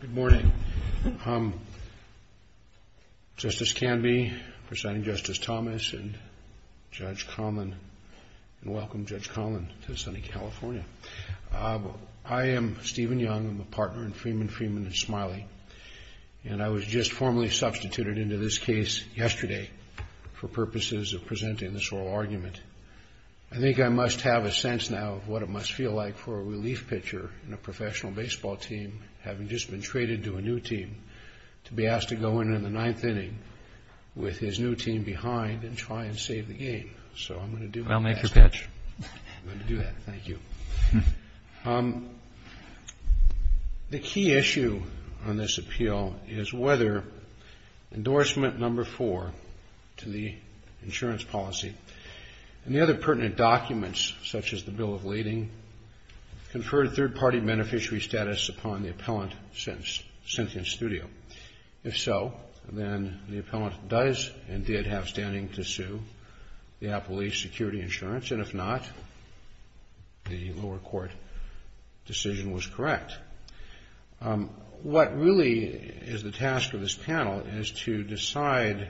Good morning. Justice Canby, Presiding Justice Thomas, and Judge Conlon, and welcome Judge Conlon to sunny California. I am Stephen Young, I'm a partner in Freeman, Freeman & Smiley. And I was just formally substituted into this case yesterday for purposes of presenting this oral argument. I think I must have a sense now of what it must feel like for a relief pitcher in a professional baseball team, having just been traded to a new team, to be asked to go in in the ninth inning with his new team behind and try and save the game. So I'm going to do that. I'll make your pitch. I'm going to do that, thank you. The key issue on this appeal is whether endorsement number four to the insurance policy and the other pertinent documents, such as the Bill of Lading, conferred third-party beneficiary status upon the appellant sentenced studio. If so, then the appellant does and did have standing to sue the appellee's security insurance, and if not, the lower court decision was correct. What really is the task of this panel is to decide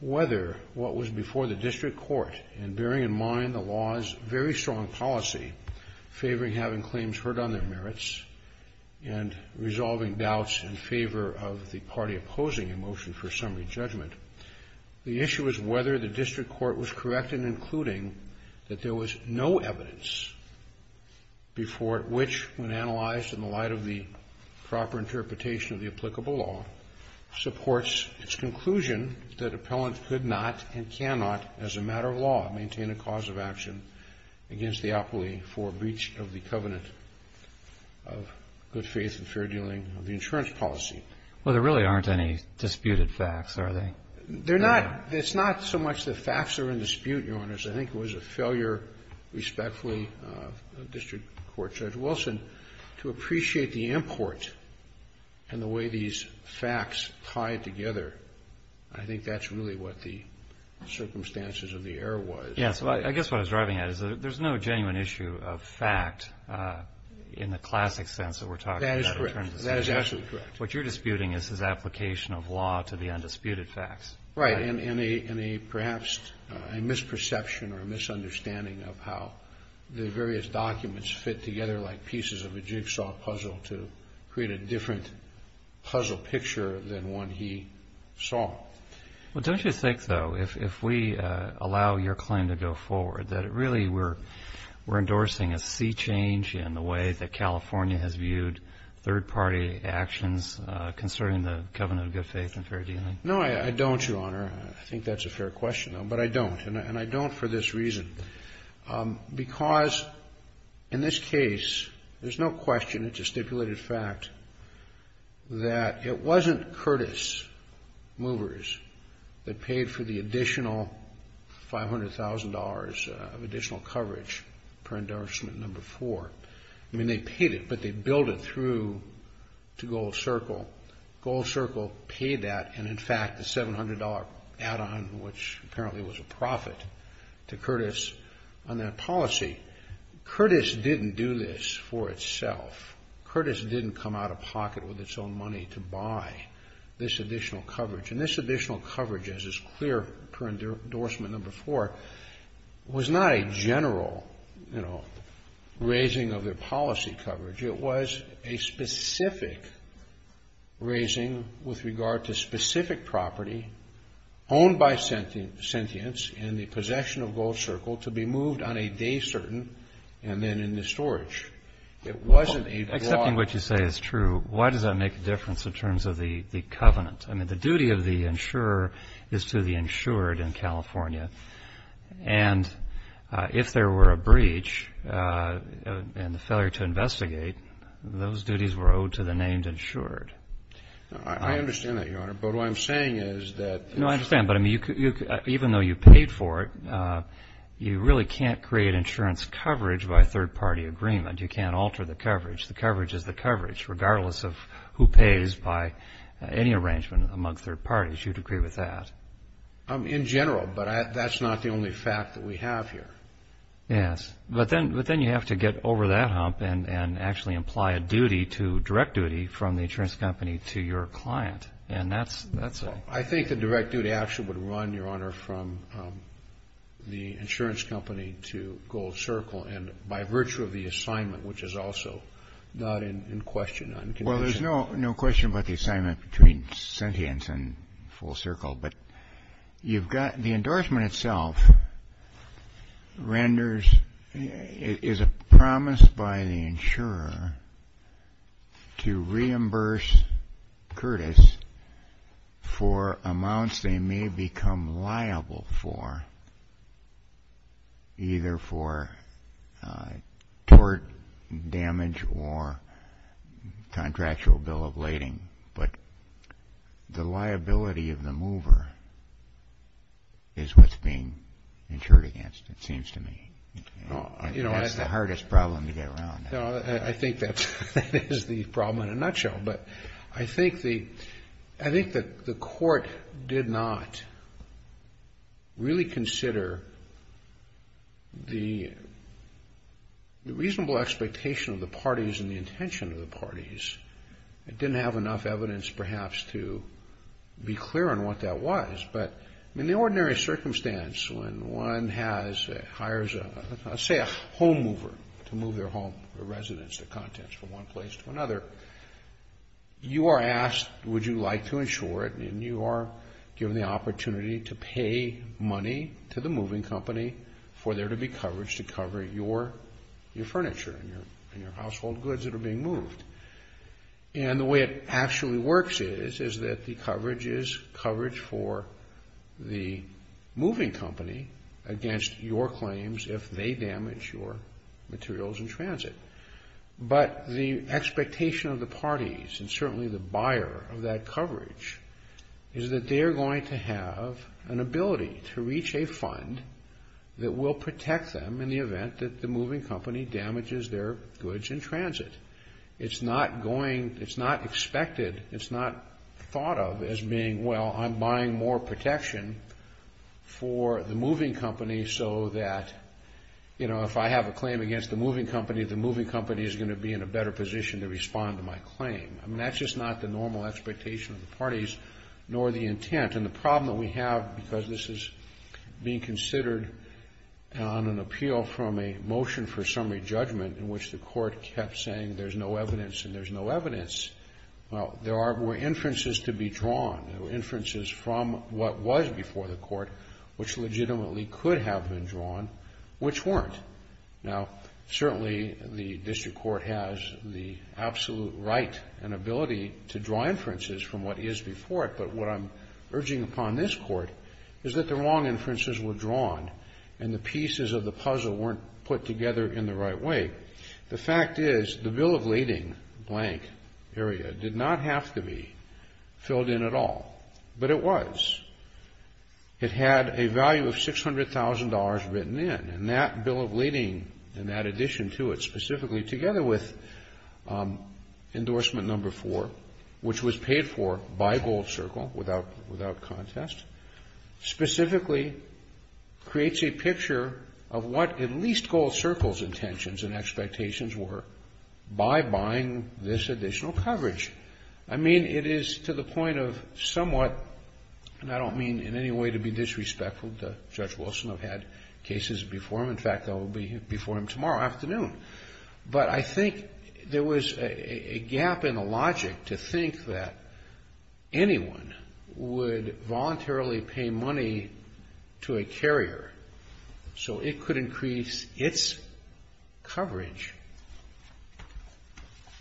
whether what was before the district court, and bearing in mind the law's very strong policy, favoring having claims heard on their merits and resolving doubts in favor of the party opposing a motion for summary judgment, the issue is whether the district court was correct in including that there was no evidence before which, when analyzed in the light of the proper interpretation of the applicable law, supports its conclusion that appellant could not and cannot, as a matter of law, maintain a cause of action against the appellee for breach of the covenant of good faith and fair dealing of the insurance policy. Well, there really aren't any disputed facts, are there? They're not. It's not so much the facts that are in dispute, Your Honors. I think it was a failure, respectfully, of District Court Judge Wilson to appreciate the import and the way these facts tie together. I think that's really what the circumstances of the error was. Yes. I guess what I was driving at is there's no genuine issue of fact in the classic sense that we're talking about. That is correct. That is absolutely correct. What you're disputing is his application of law to the undisputed facts. Right, and perhaps a misperception or a misunderstanding of how the various documents fit together like pieces of a jigsaw puzzle to create a different puzzle picture than one he saw. Well, don't you think, though, if we allow your claim to go forward, that really we're third-party actions concerning the covenant of good faith and fair dealing? No, I don't, Your Honor. I think that's a fair question, though, but I don't, and I don't for this reason. Because in this case, there's no question. It's a stipulated fact that it wasn't Curtis Movers that paid for the additional $500,000 of additional coverage per endorsement number four. I mean, they paid it, but they billed it through to Gold Circle. Gold Circle paid that, and in fact, the $700 add-on, which apparently was a profit to Curtis on that policy, Curtis didn't do this for itself. Curtis didn't come out of pocket with its own money to buy this additional coverage. And this additional general, you know, raising of their policy coverage, it was a specific raising with regard to specific property owned by sentients in the possession of Gold Circle to be moved on a day certain, and then in the storage. It wasn't a draw. Well, accepting what you say is true, why does that make a difference in terms of the And if there were a breach and the failure to investigate, those duties were owed to the named insured. I understand that, Your Honor, but what I'm saying is that No, I understand, but I mean, even though you paid for it, you really can't create insurance coverage by third-party agreement. You can't alter the coverage. The coverage is the coverage, regardless of who pays by any arrangement among third parties. You'd agree with that? In general, but that's not the only fact that we have here. Yes, but then you have to get over that hump and actually apply a duty, a direct duty, from the insurance company to your client, and that's a I think the direct duty actually would run, Your Honor, from the insurance company to Gold Circle, and by virtue of the assignment, which is also not in question, not in condition Well, there's no question about the assignment between Sentience and Full Circle, but you've got, the endorsement itself renders, is a promise by the insurer to reimburse Curtis for amounts they may become liable for, either for tort damage or contractual bill of lading, but the liability of the mover is what's being insured against, it seems to me. That's the hardest problem to get around. I think that is the problem in a nutshell, but I think the court did not really consider the reasonable expectation of the parties and the intention of the parties. It didn't have enough evidence, perhaps, to be clear on what that was, but in the ordinary circumstance, when one has, hires a, let's say a home mover to move their home, their residence, their contents from one place to another, you are asked would you like to insure it, and you are given the opportunity to pay money to the moving company for there to be coverage to cover your furniture and your household goods that are being moved, and the way it actually works is that the coverage is coverage for the moving company against your claims if they damage your materials in transit, but the expectation of the parties and certainly the buyer of that coverage is that they are going to have an ability to reach a fund that will protect them in the event that the moving company damages their goods in transit. It's not going, it's not expected, it's not thought of as being, well, I'm buying more protection for the moving company so that, you know, if I have a claim against the moving company, the moving company is going to be in a better position to respond to my claim. I mean, that's just not the normal expectation of the parties, nor the intent, and the problem that we have because this is being considered on an appeal from a motion for summary judgment in which the court kept saying there's no evidence and there's no evidence. Well, there were inferences to be drawn. There were inferences from what was before the court which legitimately could have been drawn, which weren't. Now, certainly the district court has the absolute right and ability to draw inferences from what is before it, but what I'm urging upon this court is that the wrong inferences were drawn and the pieces of the puzzle weren't put together in the right way. The fact is the bill of lading blank area did not have to be filled in at all, but it was. It had a value of $600,000 written in, and that bill of lading and that addition to it specifically, together with endorsement number four, which was paid for by Gold Circle without contest, specifically creates a picture of what at least Gold Circle's intentions and expectations were by buying this additional coverage. I mean, it is to the point of somewhat, and I don't mean in any way to be disrespectful to Judge Wilson. I've had cases before him. In fact, I will be before him tomorrow afternoon, but I think there was a gap in the logic to think that anyone would voluntarily pay money to a carrier so it could increase its coverage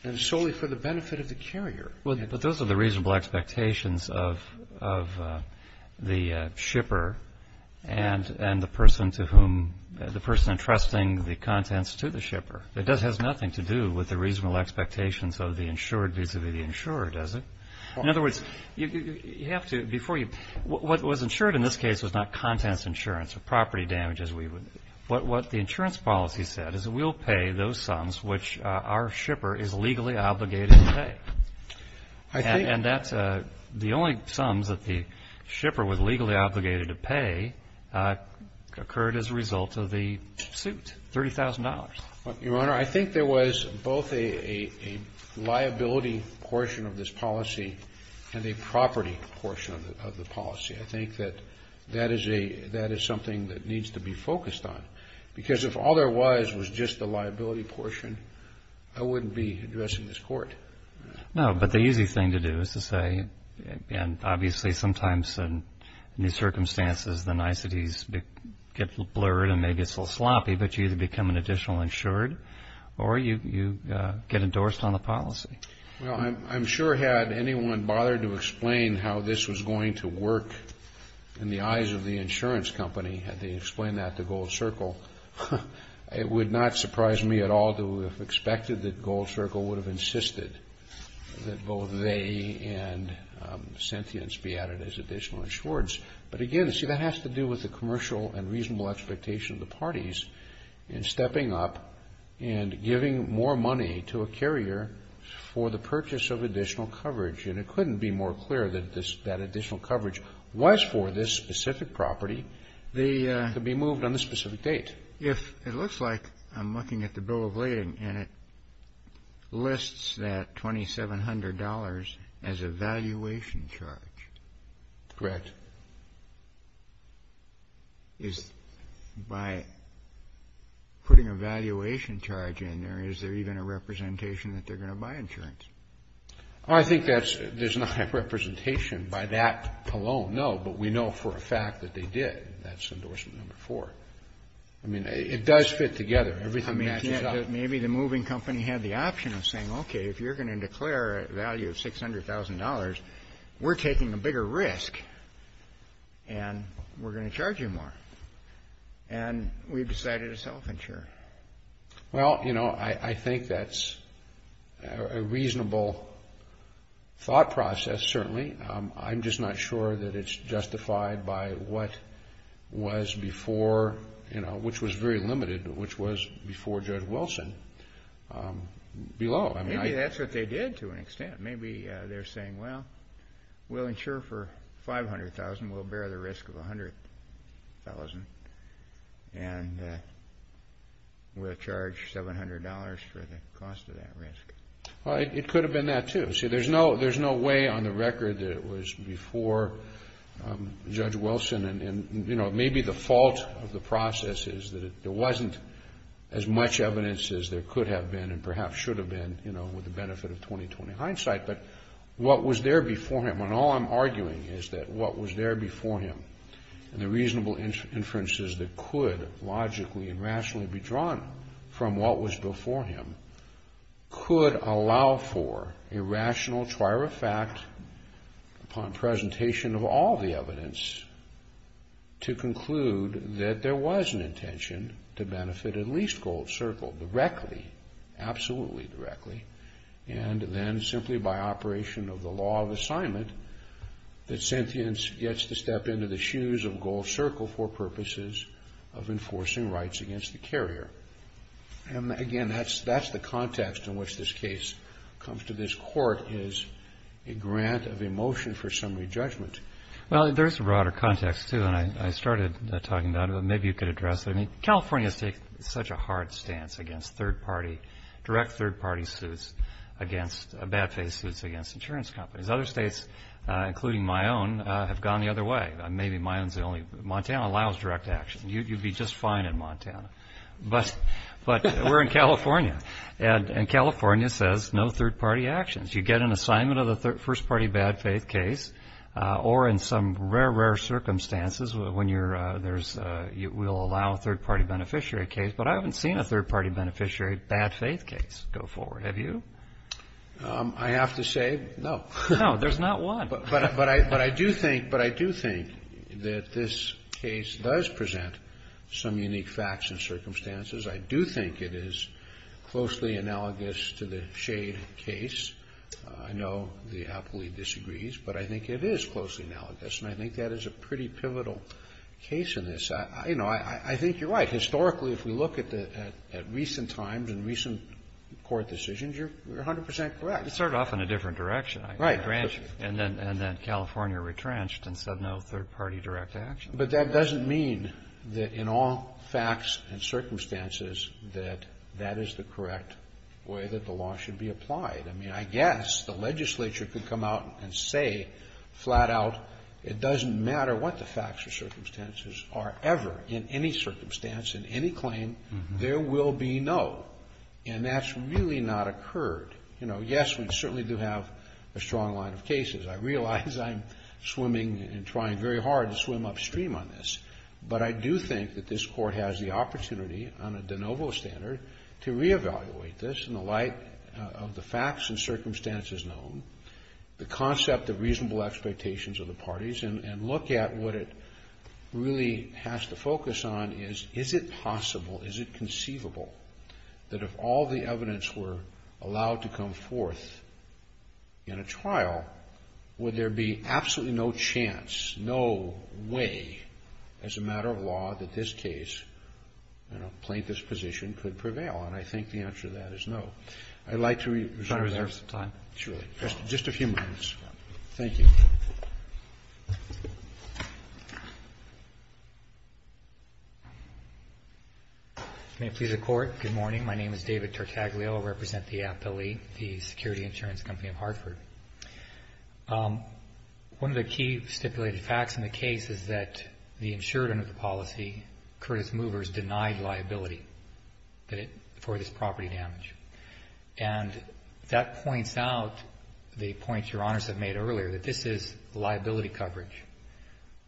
and solely for the benefit of the carrier. But those are the reasonable expectations of the shipper and the person to whom, the person entrusting the contents to the shipper. It has nothing to do with the reasonable expectations of the insured vis-a-vis the insurer, does it? In other words, you have to, before you, what was insured in this case was not contents insurance or property damages. What the insurance policy said is that we'll pay those sums which our shipper is legally obligated to pay. And that's the only sums that the shipper was legally obligated to pay occurred as a result of the suit, $30,000. Your Honor, I think there was both a liability portion of this policy and a property portion of the policy. I think that that is something that needs to be focused on. Because if all there was was just the liability portion, I wouldn't be addressing this court. No, but the easy thing to do is to say, and obviously sometimes in these circumstances the insured or you get endorsed on the policy. Well, I'm sure had anyone bothered to explain how this was going to work in the eyes of the insurance company, had they explained that to Gold Circle, it would not surprise me at all to have expected that Gold Circle would have insisted that both they and Sentience be added as additional insureds. But again, see, that has to do with the commercial and reasonable expectation of the parties in stepping up and giving more money to a carrier for the purchase of additional coverage. And it couldn't be more clear that that additional coverage was for this specific property to be moved on this specific date. If it looks like I'm looking at the bill of lading and it lists that $2,700 as a valuation charge. Correct. Is by putting a valuation charge in there, is there even a representation that they're going to buy insurance? I think that's, there's not a representation by that alone, no, but we know for a fact that they did. That's endorsement number four. I mean, it does fit together. Everything matches up. Maybe the moving company had the option of saying, okay, if you're going to declare a value of $600,000, we're taking a bigger risk and we're going to charge you more. And we've decided to self-insure. Well, you know, I think that's a reasonable thought process, certainly. I'm just not sure that it's justified by what was before, you know, which was very limited, which was before Judge Wilson below. Maybe that's what they did to an extent. Maybe they're saying, well, we'll insure for $500,000. We'll bear the risk of $100,000 and we'll charge $700 for the cost of that risk. Well, it could have been that, too. See, there's no way on the record that it was before Judge Wilson and, you know, maybe the fault of the process is that there wasn't as much evidence as there could have been and perhaps should have been, you know, with the benefit of 20-20 hindsight. But what was there before him, and all I'm arguing is that what was there before him and the reasonable inferences that could logically and rationally be drawn from what was before him could allow for a rational trier of fact upon presentation of all the evidence to conclude that there was an intention to enforce the rights against the carrier. And again, that's the context in which this case comes to this court is a grant of emotion for summary judgment. Well, there's a broader context, too, and I started talking about it, but maybe you could address it. I mean, California has taken such a hard stance against third-party, direct third-party suits against bad faith suits against insurance companies. Other states, including my own, have gone the other way. Maybe my own is the only, Montana allows direct action. You'd be just fine in Montana. But we're in California, and California says no third-party actions. You get an assignment of the first-party bad faith case or in some rare, rare circumstances when you're, there's, we'll allow a third-party beneficiary case. But I haven't seen a third-party beneficiary bad faith case go forward. Have you? I have to say no. No, there's not one. But I do think that this case does present some unique facts and circumstances. I do think it is closely analogous to the shade case. I know the appellee disagrees, but I think it is closely analogous, and I think that is a pretty pivotal case. You know, I think you're right. Historically, if we look at recent times and recent court decisions, you're 100 percent correct. It started off in a different direction. Right. And then California retrenched and said no third-party direct action. But that doesn't mean that in all facts and circumstances that that is the correct way that the law should be applied. I mean, I guess the legislature could come out and say flat out it doesn't matter what the facts or circumstances are ever, in any circumstance, in any claim, there will be no. And that's really not occurred. You know, yes, we certainly do have a strong line of cases. I realize I'm swimming and trying very hard to swim upstream on this. But I do think that this court has the opportunity on a de novo standard to reevaluate this in the light of the facts and circumstances known, the concept of reasonable expectations of the parties, and look at what it really has to focus on is, is it possible, is it conceivable that if all the evidence were allowed to come forth in a trial, would there be absolutely no chance, no way as a matter of law that this case in a plaintiff's position could prevail? And I think the answer to that is no. I'd like to reserve some time. Sure. Just a few minutes. Thank you. May it please the Court. Good morning. My name is David Tertaglio. I represent the APLE, the Security Insurance Company of Hartford. One of the key stipulated facts in the case is that the insured under the policy, Curtis Movers, denied liability for this property damage. And that points out the point Your Honors have made earlier, that this is liability coverage.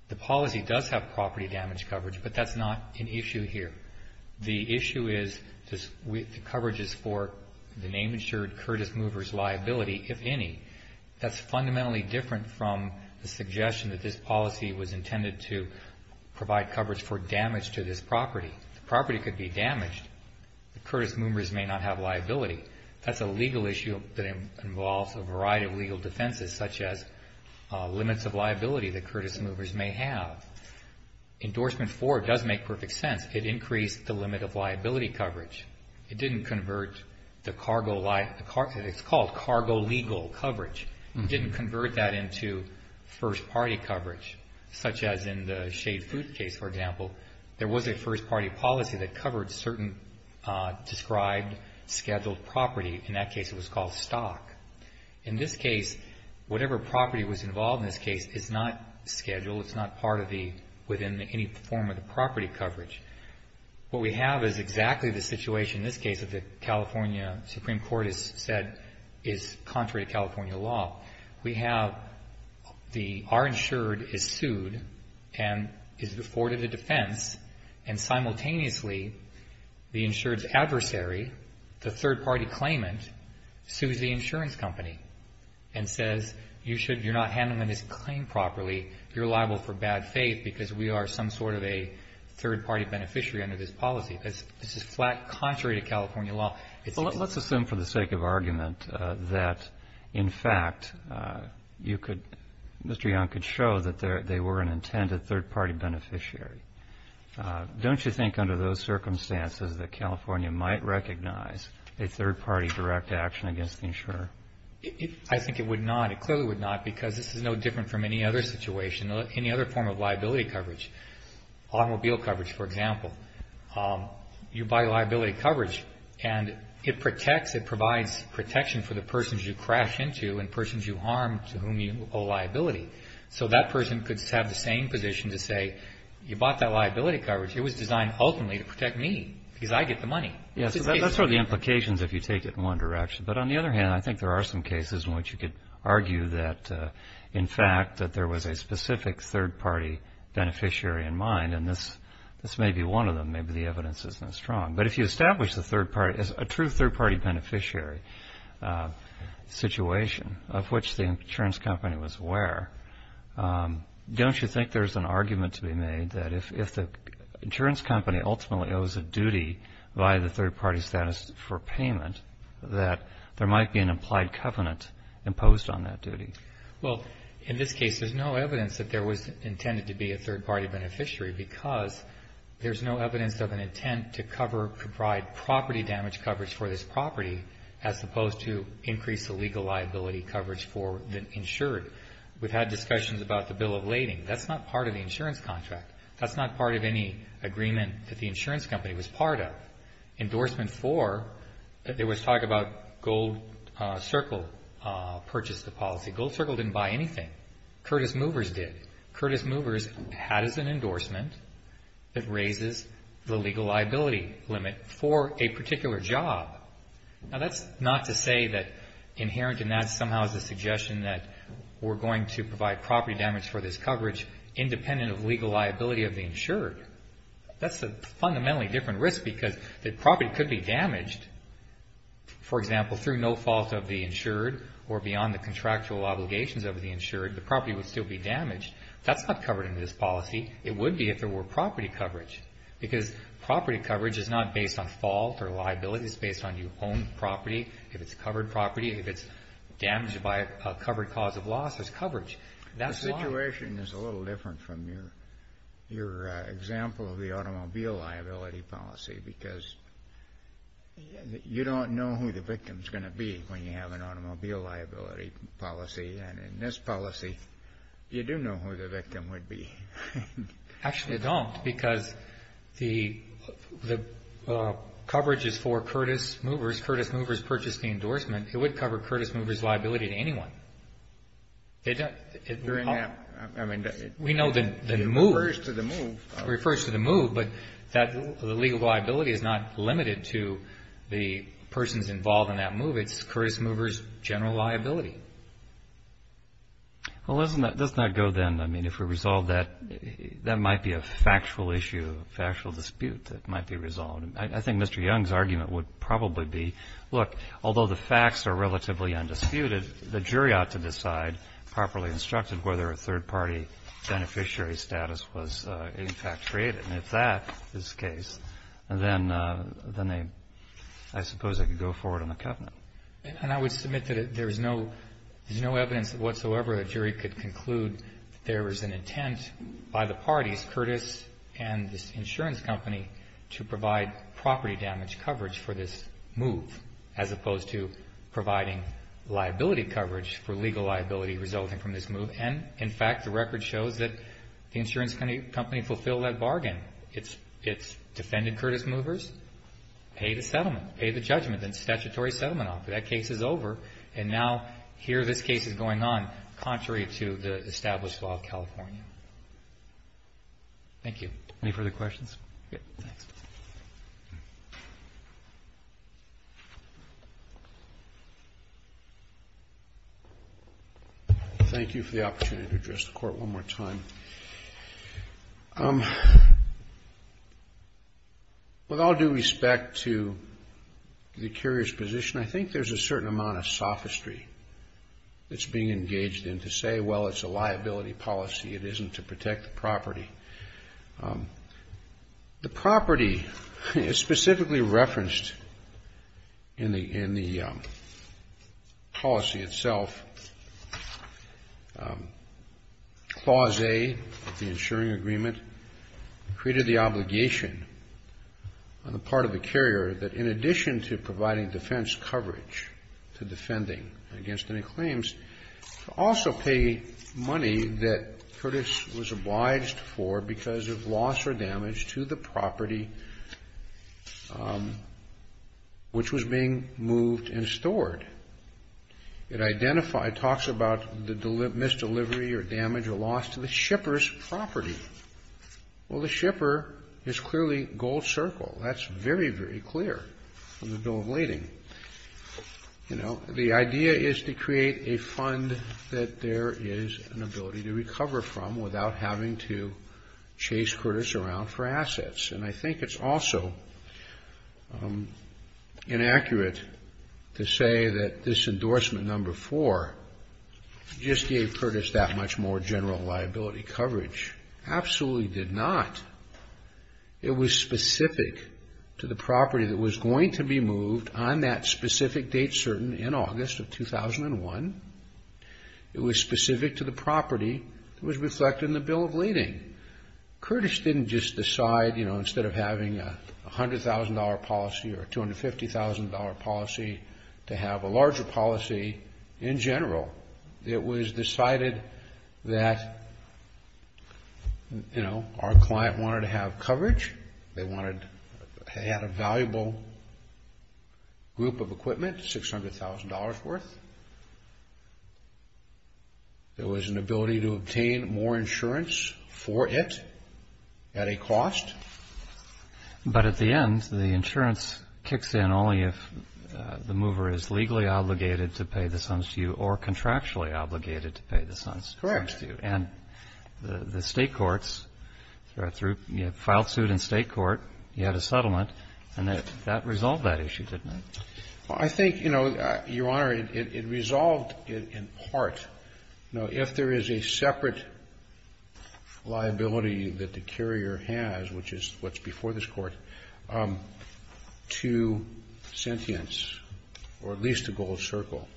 The policy does have property damage coverage, but that's not an issue here. The issue is the coverage is for the name insured Curtis Movers' liability, if any. That's fundamentally different from the suggestion that this policy was intended to provide coverage for damage to this property. The property could be damaged, but Curtis Movers may not have liability. That's a legal issue that involves a variety of legal defenses, such as limits of liability that Curtis Movers may have. Endorsement four does make perfect sense. It increased the limit of liability coverage. It didn't convert the cargo, it's called cargo legal coverage. It didn't convert that into first-party coverage, such as in the Shade Food case, for example. There was a first-party policy that covered certain described scheduled property. In that case, it was called stock. In this case, whatever property was involved in this case is not scheduled. It's not part of the, within any form of the property coverage. What we have is exactly the situation in this case that the California Supreme Court has said is contrary to California law. We have the, our insured is sued and is afforded a defense, and simultaneously, the insured's adversary, the third-party claimant, sues the insurance company and says, you should, you're not handling this claim properly. You're liable for bad faith because we are some sort of a third-party beneficiary under this policy. This is flat contrary to California law. It's a good thing. Well, let's assume for the sake of argument that, in fact, you could, Mr. Young could show that they were an intended third-party beneficiary. Don't you think under those circumstances that California might recognize a third-party direct action against the insurer? I think it would not. It clearly would not because this is no different from any other situation, any other form of liability coverage. Automobile coverage, for example. You buy liability coverage, and it protects, it provides protection for the persons you crash into and persons you harm to whom you owe liability. So that person could have the same position to say, you bought that liability coverage. It was designed ultimately to protect me because I get the money. Yeah, so that's sort of the implications if you take it in one direction. But on the other hand, I think there are some cases in which you could argue that, in fact, that there was a specific third-party beneficiary in mind, and this may be one of them. Maybe the evidence isn't as strong. But if you establish the third party as a true third-party beneficiary situation of which the insurance company was aware, don't you think there's an argument to be made that if the insurance company ultimately owes a duty by the third-party status for payment, that there might be an implied covenant imposed on that duty? Well, in this case, there's no evidence that there was intended to be a third-party beneficiary because there's no evidence of an intent to provide property damage coverage for this property as opposed to increase the legal liability coverage for the insured. We've had discussions about the bill of lading. That's not part of the insurance contract. That's not part of any agreement that the insurance company was part of. Endorsement for, there was talk about Gold Circle purchased the policy. Gold Circle didn't buy anything. Curtis Movers did. Curtis Movers had as an endorsement that raises the legal liability limit for a particular job. Now, that's not to say that inherent in that somehow is a suggestion that we're going to provide property damage for this coverage independent of legal liability of the insured. That's a fundamentally different risk because the property could be damaged. For example, through no fault of the insured or beyond the contractual obligations of the insured, the property would still be damaged. That's not covered in this policy. It would be if there were property coverage because property coverage is not based on fault or liability. It's based on your own property. If it's covered property, if it's damaged by a covered cause of loss, there's coverage. The situation is a little different from your example of the automobile liability policy because you don't know who the victim is going to be when you have an automobile liability policy. And in this policy, you do know who the victim would be. Actually, you don't because the coverage is for Curtis Movers. Curtis Movers purchased the endorsement. It would cover Curtis Movers' liability to anyone. During that, I mean, it refers to the move. It refers to the move, but the legal liability is not limited to the persons involved in that move. It's Curtis Movers' general liability. Well, let's not go then, I mean, if we resolve that, that might be a factual issue, a factual dispute that might be resolved. I think Mr. Young's argument would probably be, look, although the facts are relatively undisputed, the jury ought to decide, properly instructed, whether a third-party beneficiary status was, in fact, created. And if that is the case, then I suppose I could go forward on the covenant. And I would submit that there is no evidence whatsoever that a jury could conclude that there was an intent by the parties, Curtis and this insurance company, to provide property damage coverage for this move, as opposed to providing liability coverage for legal liability resulting from this move. And, in fact, the record shows that the insurance company fulfilled that bargain. It's defended Curtis Movers, paid the settlement, paid the judgment, and statutory settlement offer. That case is over, and now here this case is going on, contrary to the established law of California. Thank you. Any further questions? Good. Thanks. Thank you. Thank you for the opportunity to address the Court one more time. With all due respect to the carrier's position, I think there's a certain amount of sophistry that's being engaged in to say, well, it's a liability policy. It isn't to protect the property. The property is specifically referenced in the policy itself. Clause A of the insuring agreement created the obligation on the part of the carrier that, in addition to providing defense coverage to defending against any claims, to also pay money that Curtis was obliged for because of loss or damage to the property, which was being moved and stored. It talks about the misdelivery or damage or loss to the shipper's property. Well, the shipper is clearly gold circle. That's very, very clear in the Bill of Lading. You know, the idea is to create a fund that there is an ability to recover from without having to chase Curtis around for assets. And I think it's also inaccurate to say that this endorsement number four just gave Curtis that much more general liability coverage. Absolutely did not. It was specific to the property that was going to be moved on that specific date certain in August of 2001. It was specific to the property that was reflected in the Bill of Lading. Curtis didn't just decide, you know, instead of having a $100,000 policy or a $250,000 policy, to have a larger policy in general. It was decided that, you know, our client wanted to have coverage. They had a valuable group of equipment, $600,000 worth. There was an ability to obtain more insurance for it at a cost. But at the end, the insurance kicks in only if the mover is legally obligated to pay the sums to you or contractually obligated to pay the sums to you. Correct. And the state courts are through. You have filed suit in state court. You had a settlement. And that resolved that issue, didn't it? I think, you know, Your Honor, it resolved it in part. You know, if there is a separate liability that the carrier has, which is what's before this court, to Sentience or at least to Gold Circle,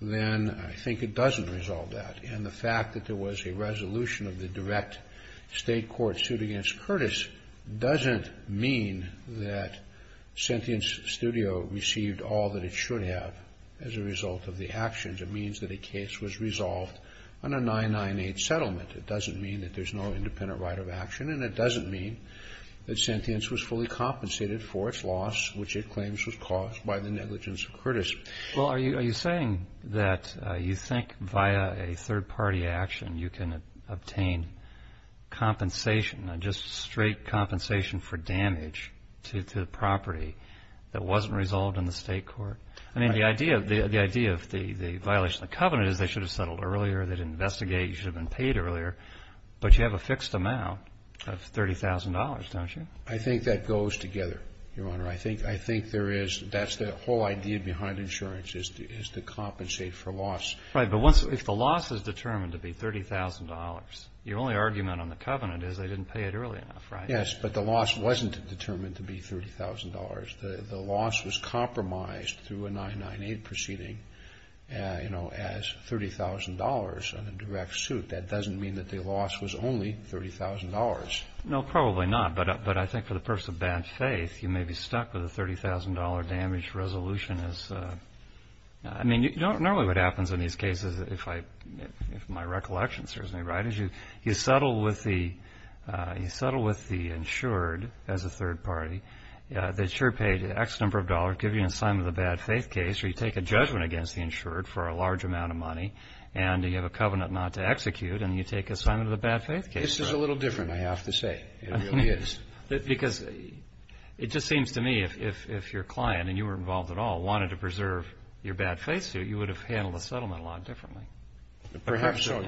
then I think it doesn't resolve that. And the fact that there was a resolution of the direct state court suit against Curtis doesn't mean that Sentience Studio received all that it should have. As a result of the actions, it means that a case was resolved on a 998 settlement. It doesn't mean that there's no independent right of action. And it doesn't mean that Sentience was fully compensated for its loss, which it claims was caused by the negligence of Curtis. Well, are you saying that you think via a third-party action you can obtain compensation, just straight compensation for damage to the property that wasn't resolved in the state court? I mean, the idea of the violation of the covenant is they should have settled earlier, they didn't investigate, you should have been paid earlier. But you have a fixed amount of $30,000, don't you? I think that goes together, Your Honor. I think there is the whole idea behind insurance is to compensate for loss. Right. But if the loss is determined to be $30,000, your only argument on the covenant is they didn't pay it early enough, right? Yes. But the loss wasn't determined to be $30,000. The loss was compromised through a 998 proceeding as $30,000 in a direct suit. That doesn't mean that the loss was only $30,000. No, probably not. But I think for the purpose of bad faith, you may be stuck with a $30,000 damage resolution. I mean, normally what happens in these cases, if my recollection serves me right, is you settle with the insured as a third party. The insured paid X number of dollars, give you an assignment of the bad faith case, or you take a judgment against the insured for a large amount of money, and you have a covenant not to execute, and you take assignment of the bad faith case. This is a little different, I have to say. It really is. Because it just seems to me if your client, and you weren't involved at all, wanted to preserve your bad faith suit, you would have handled the settlement a lot differently. Perhaps so.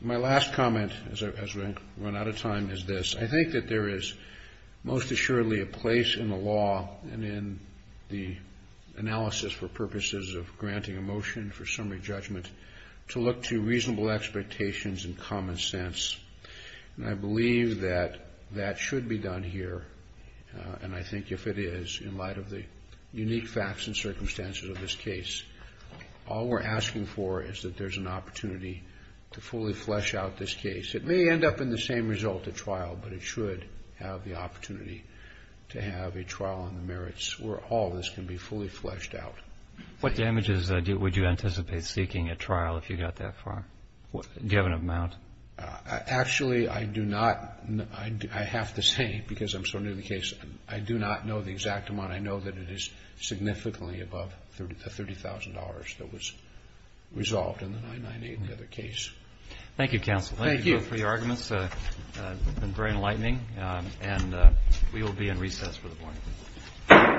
My last comment, as we run out of time, is this. I think that there is most assuredly a place in the law and in the analysis for purposes of granting a motion for summary judgment to look to reasonable expectations and common sense. And I believe that that should be done here. And I think if it is, in light of the unique facts and circumstances of this case, all we're asking for is that there's an opportunity to fully flesh out this case. It may end up in the same result, a trial, but it should have the opportunity to have a trial on the merits where all this can be fully fleshed out. What damages would you anticipate seeking at trial if you got that far, given amount? Actually, I do not. I have to say, because I'm so new to the case, I do not know the exact amount. And I know that it is significantly above the $30,000 that was resolved in the 998 and the other case. Thank you, counsel. Thank you. Thank you both for your arguments. It's been very enlightening. And we will be in recess for the morning.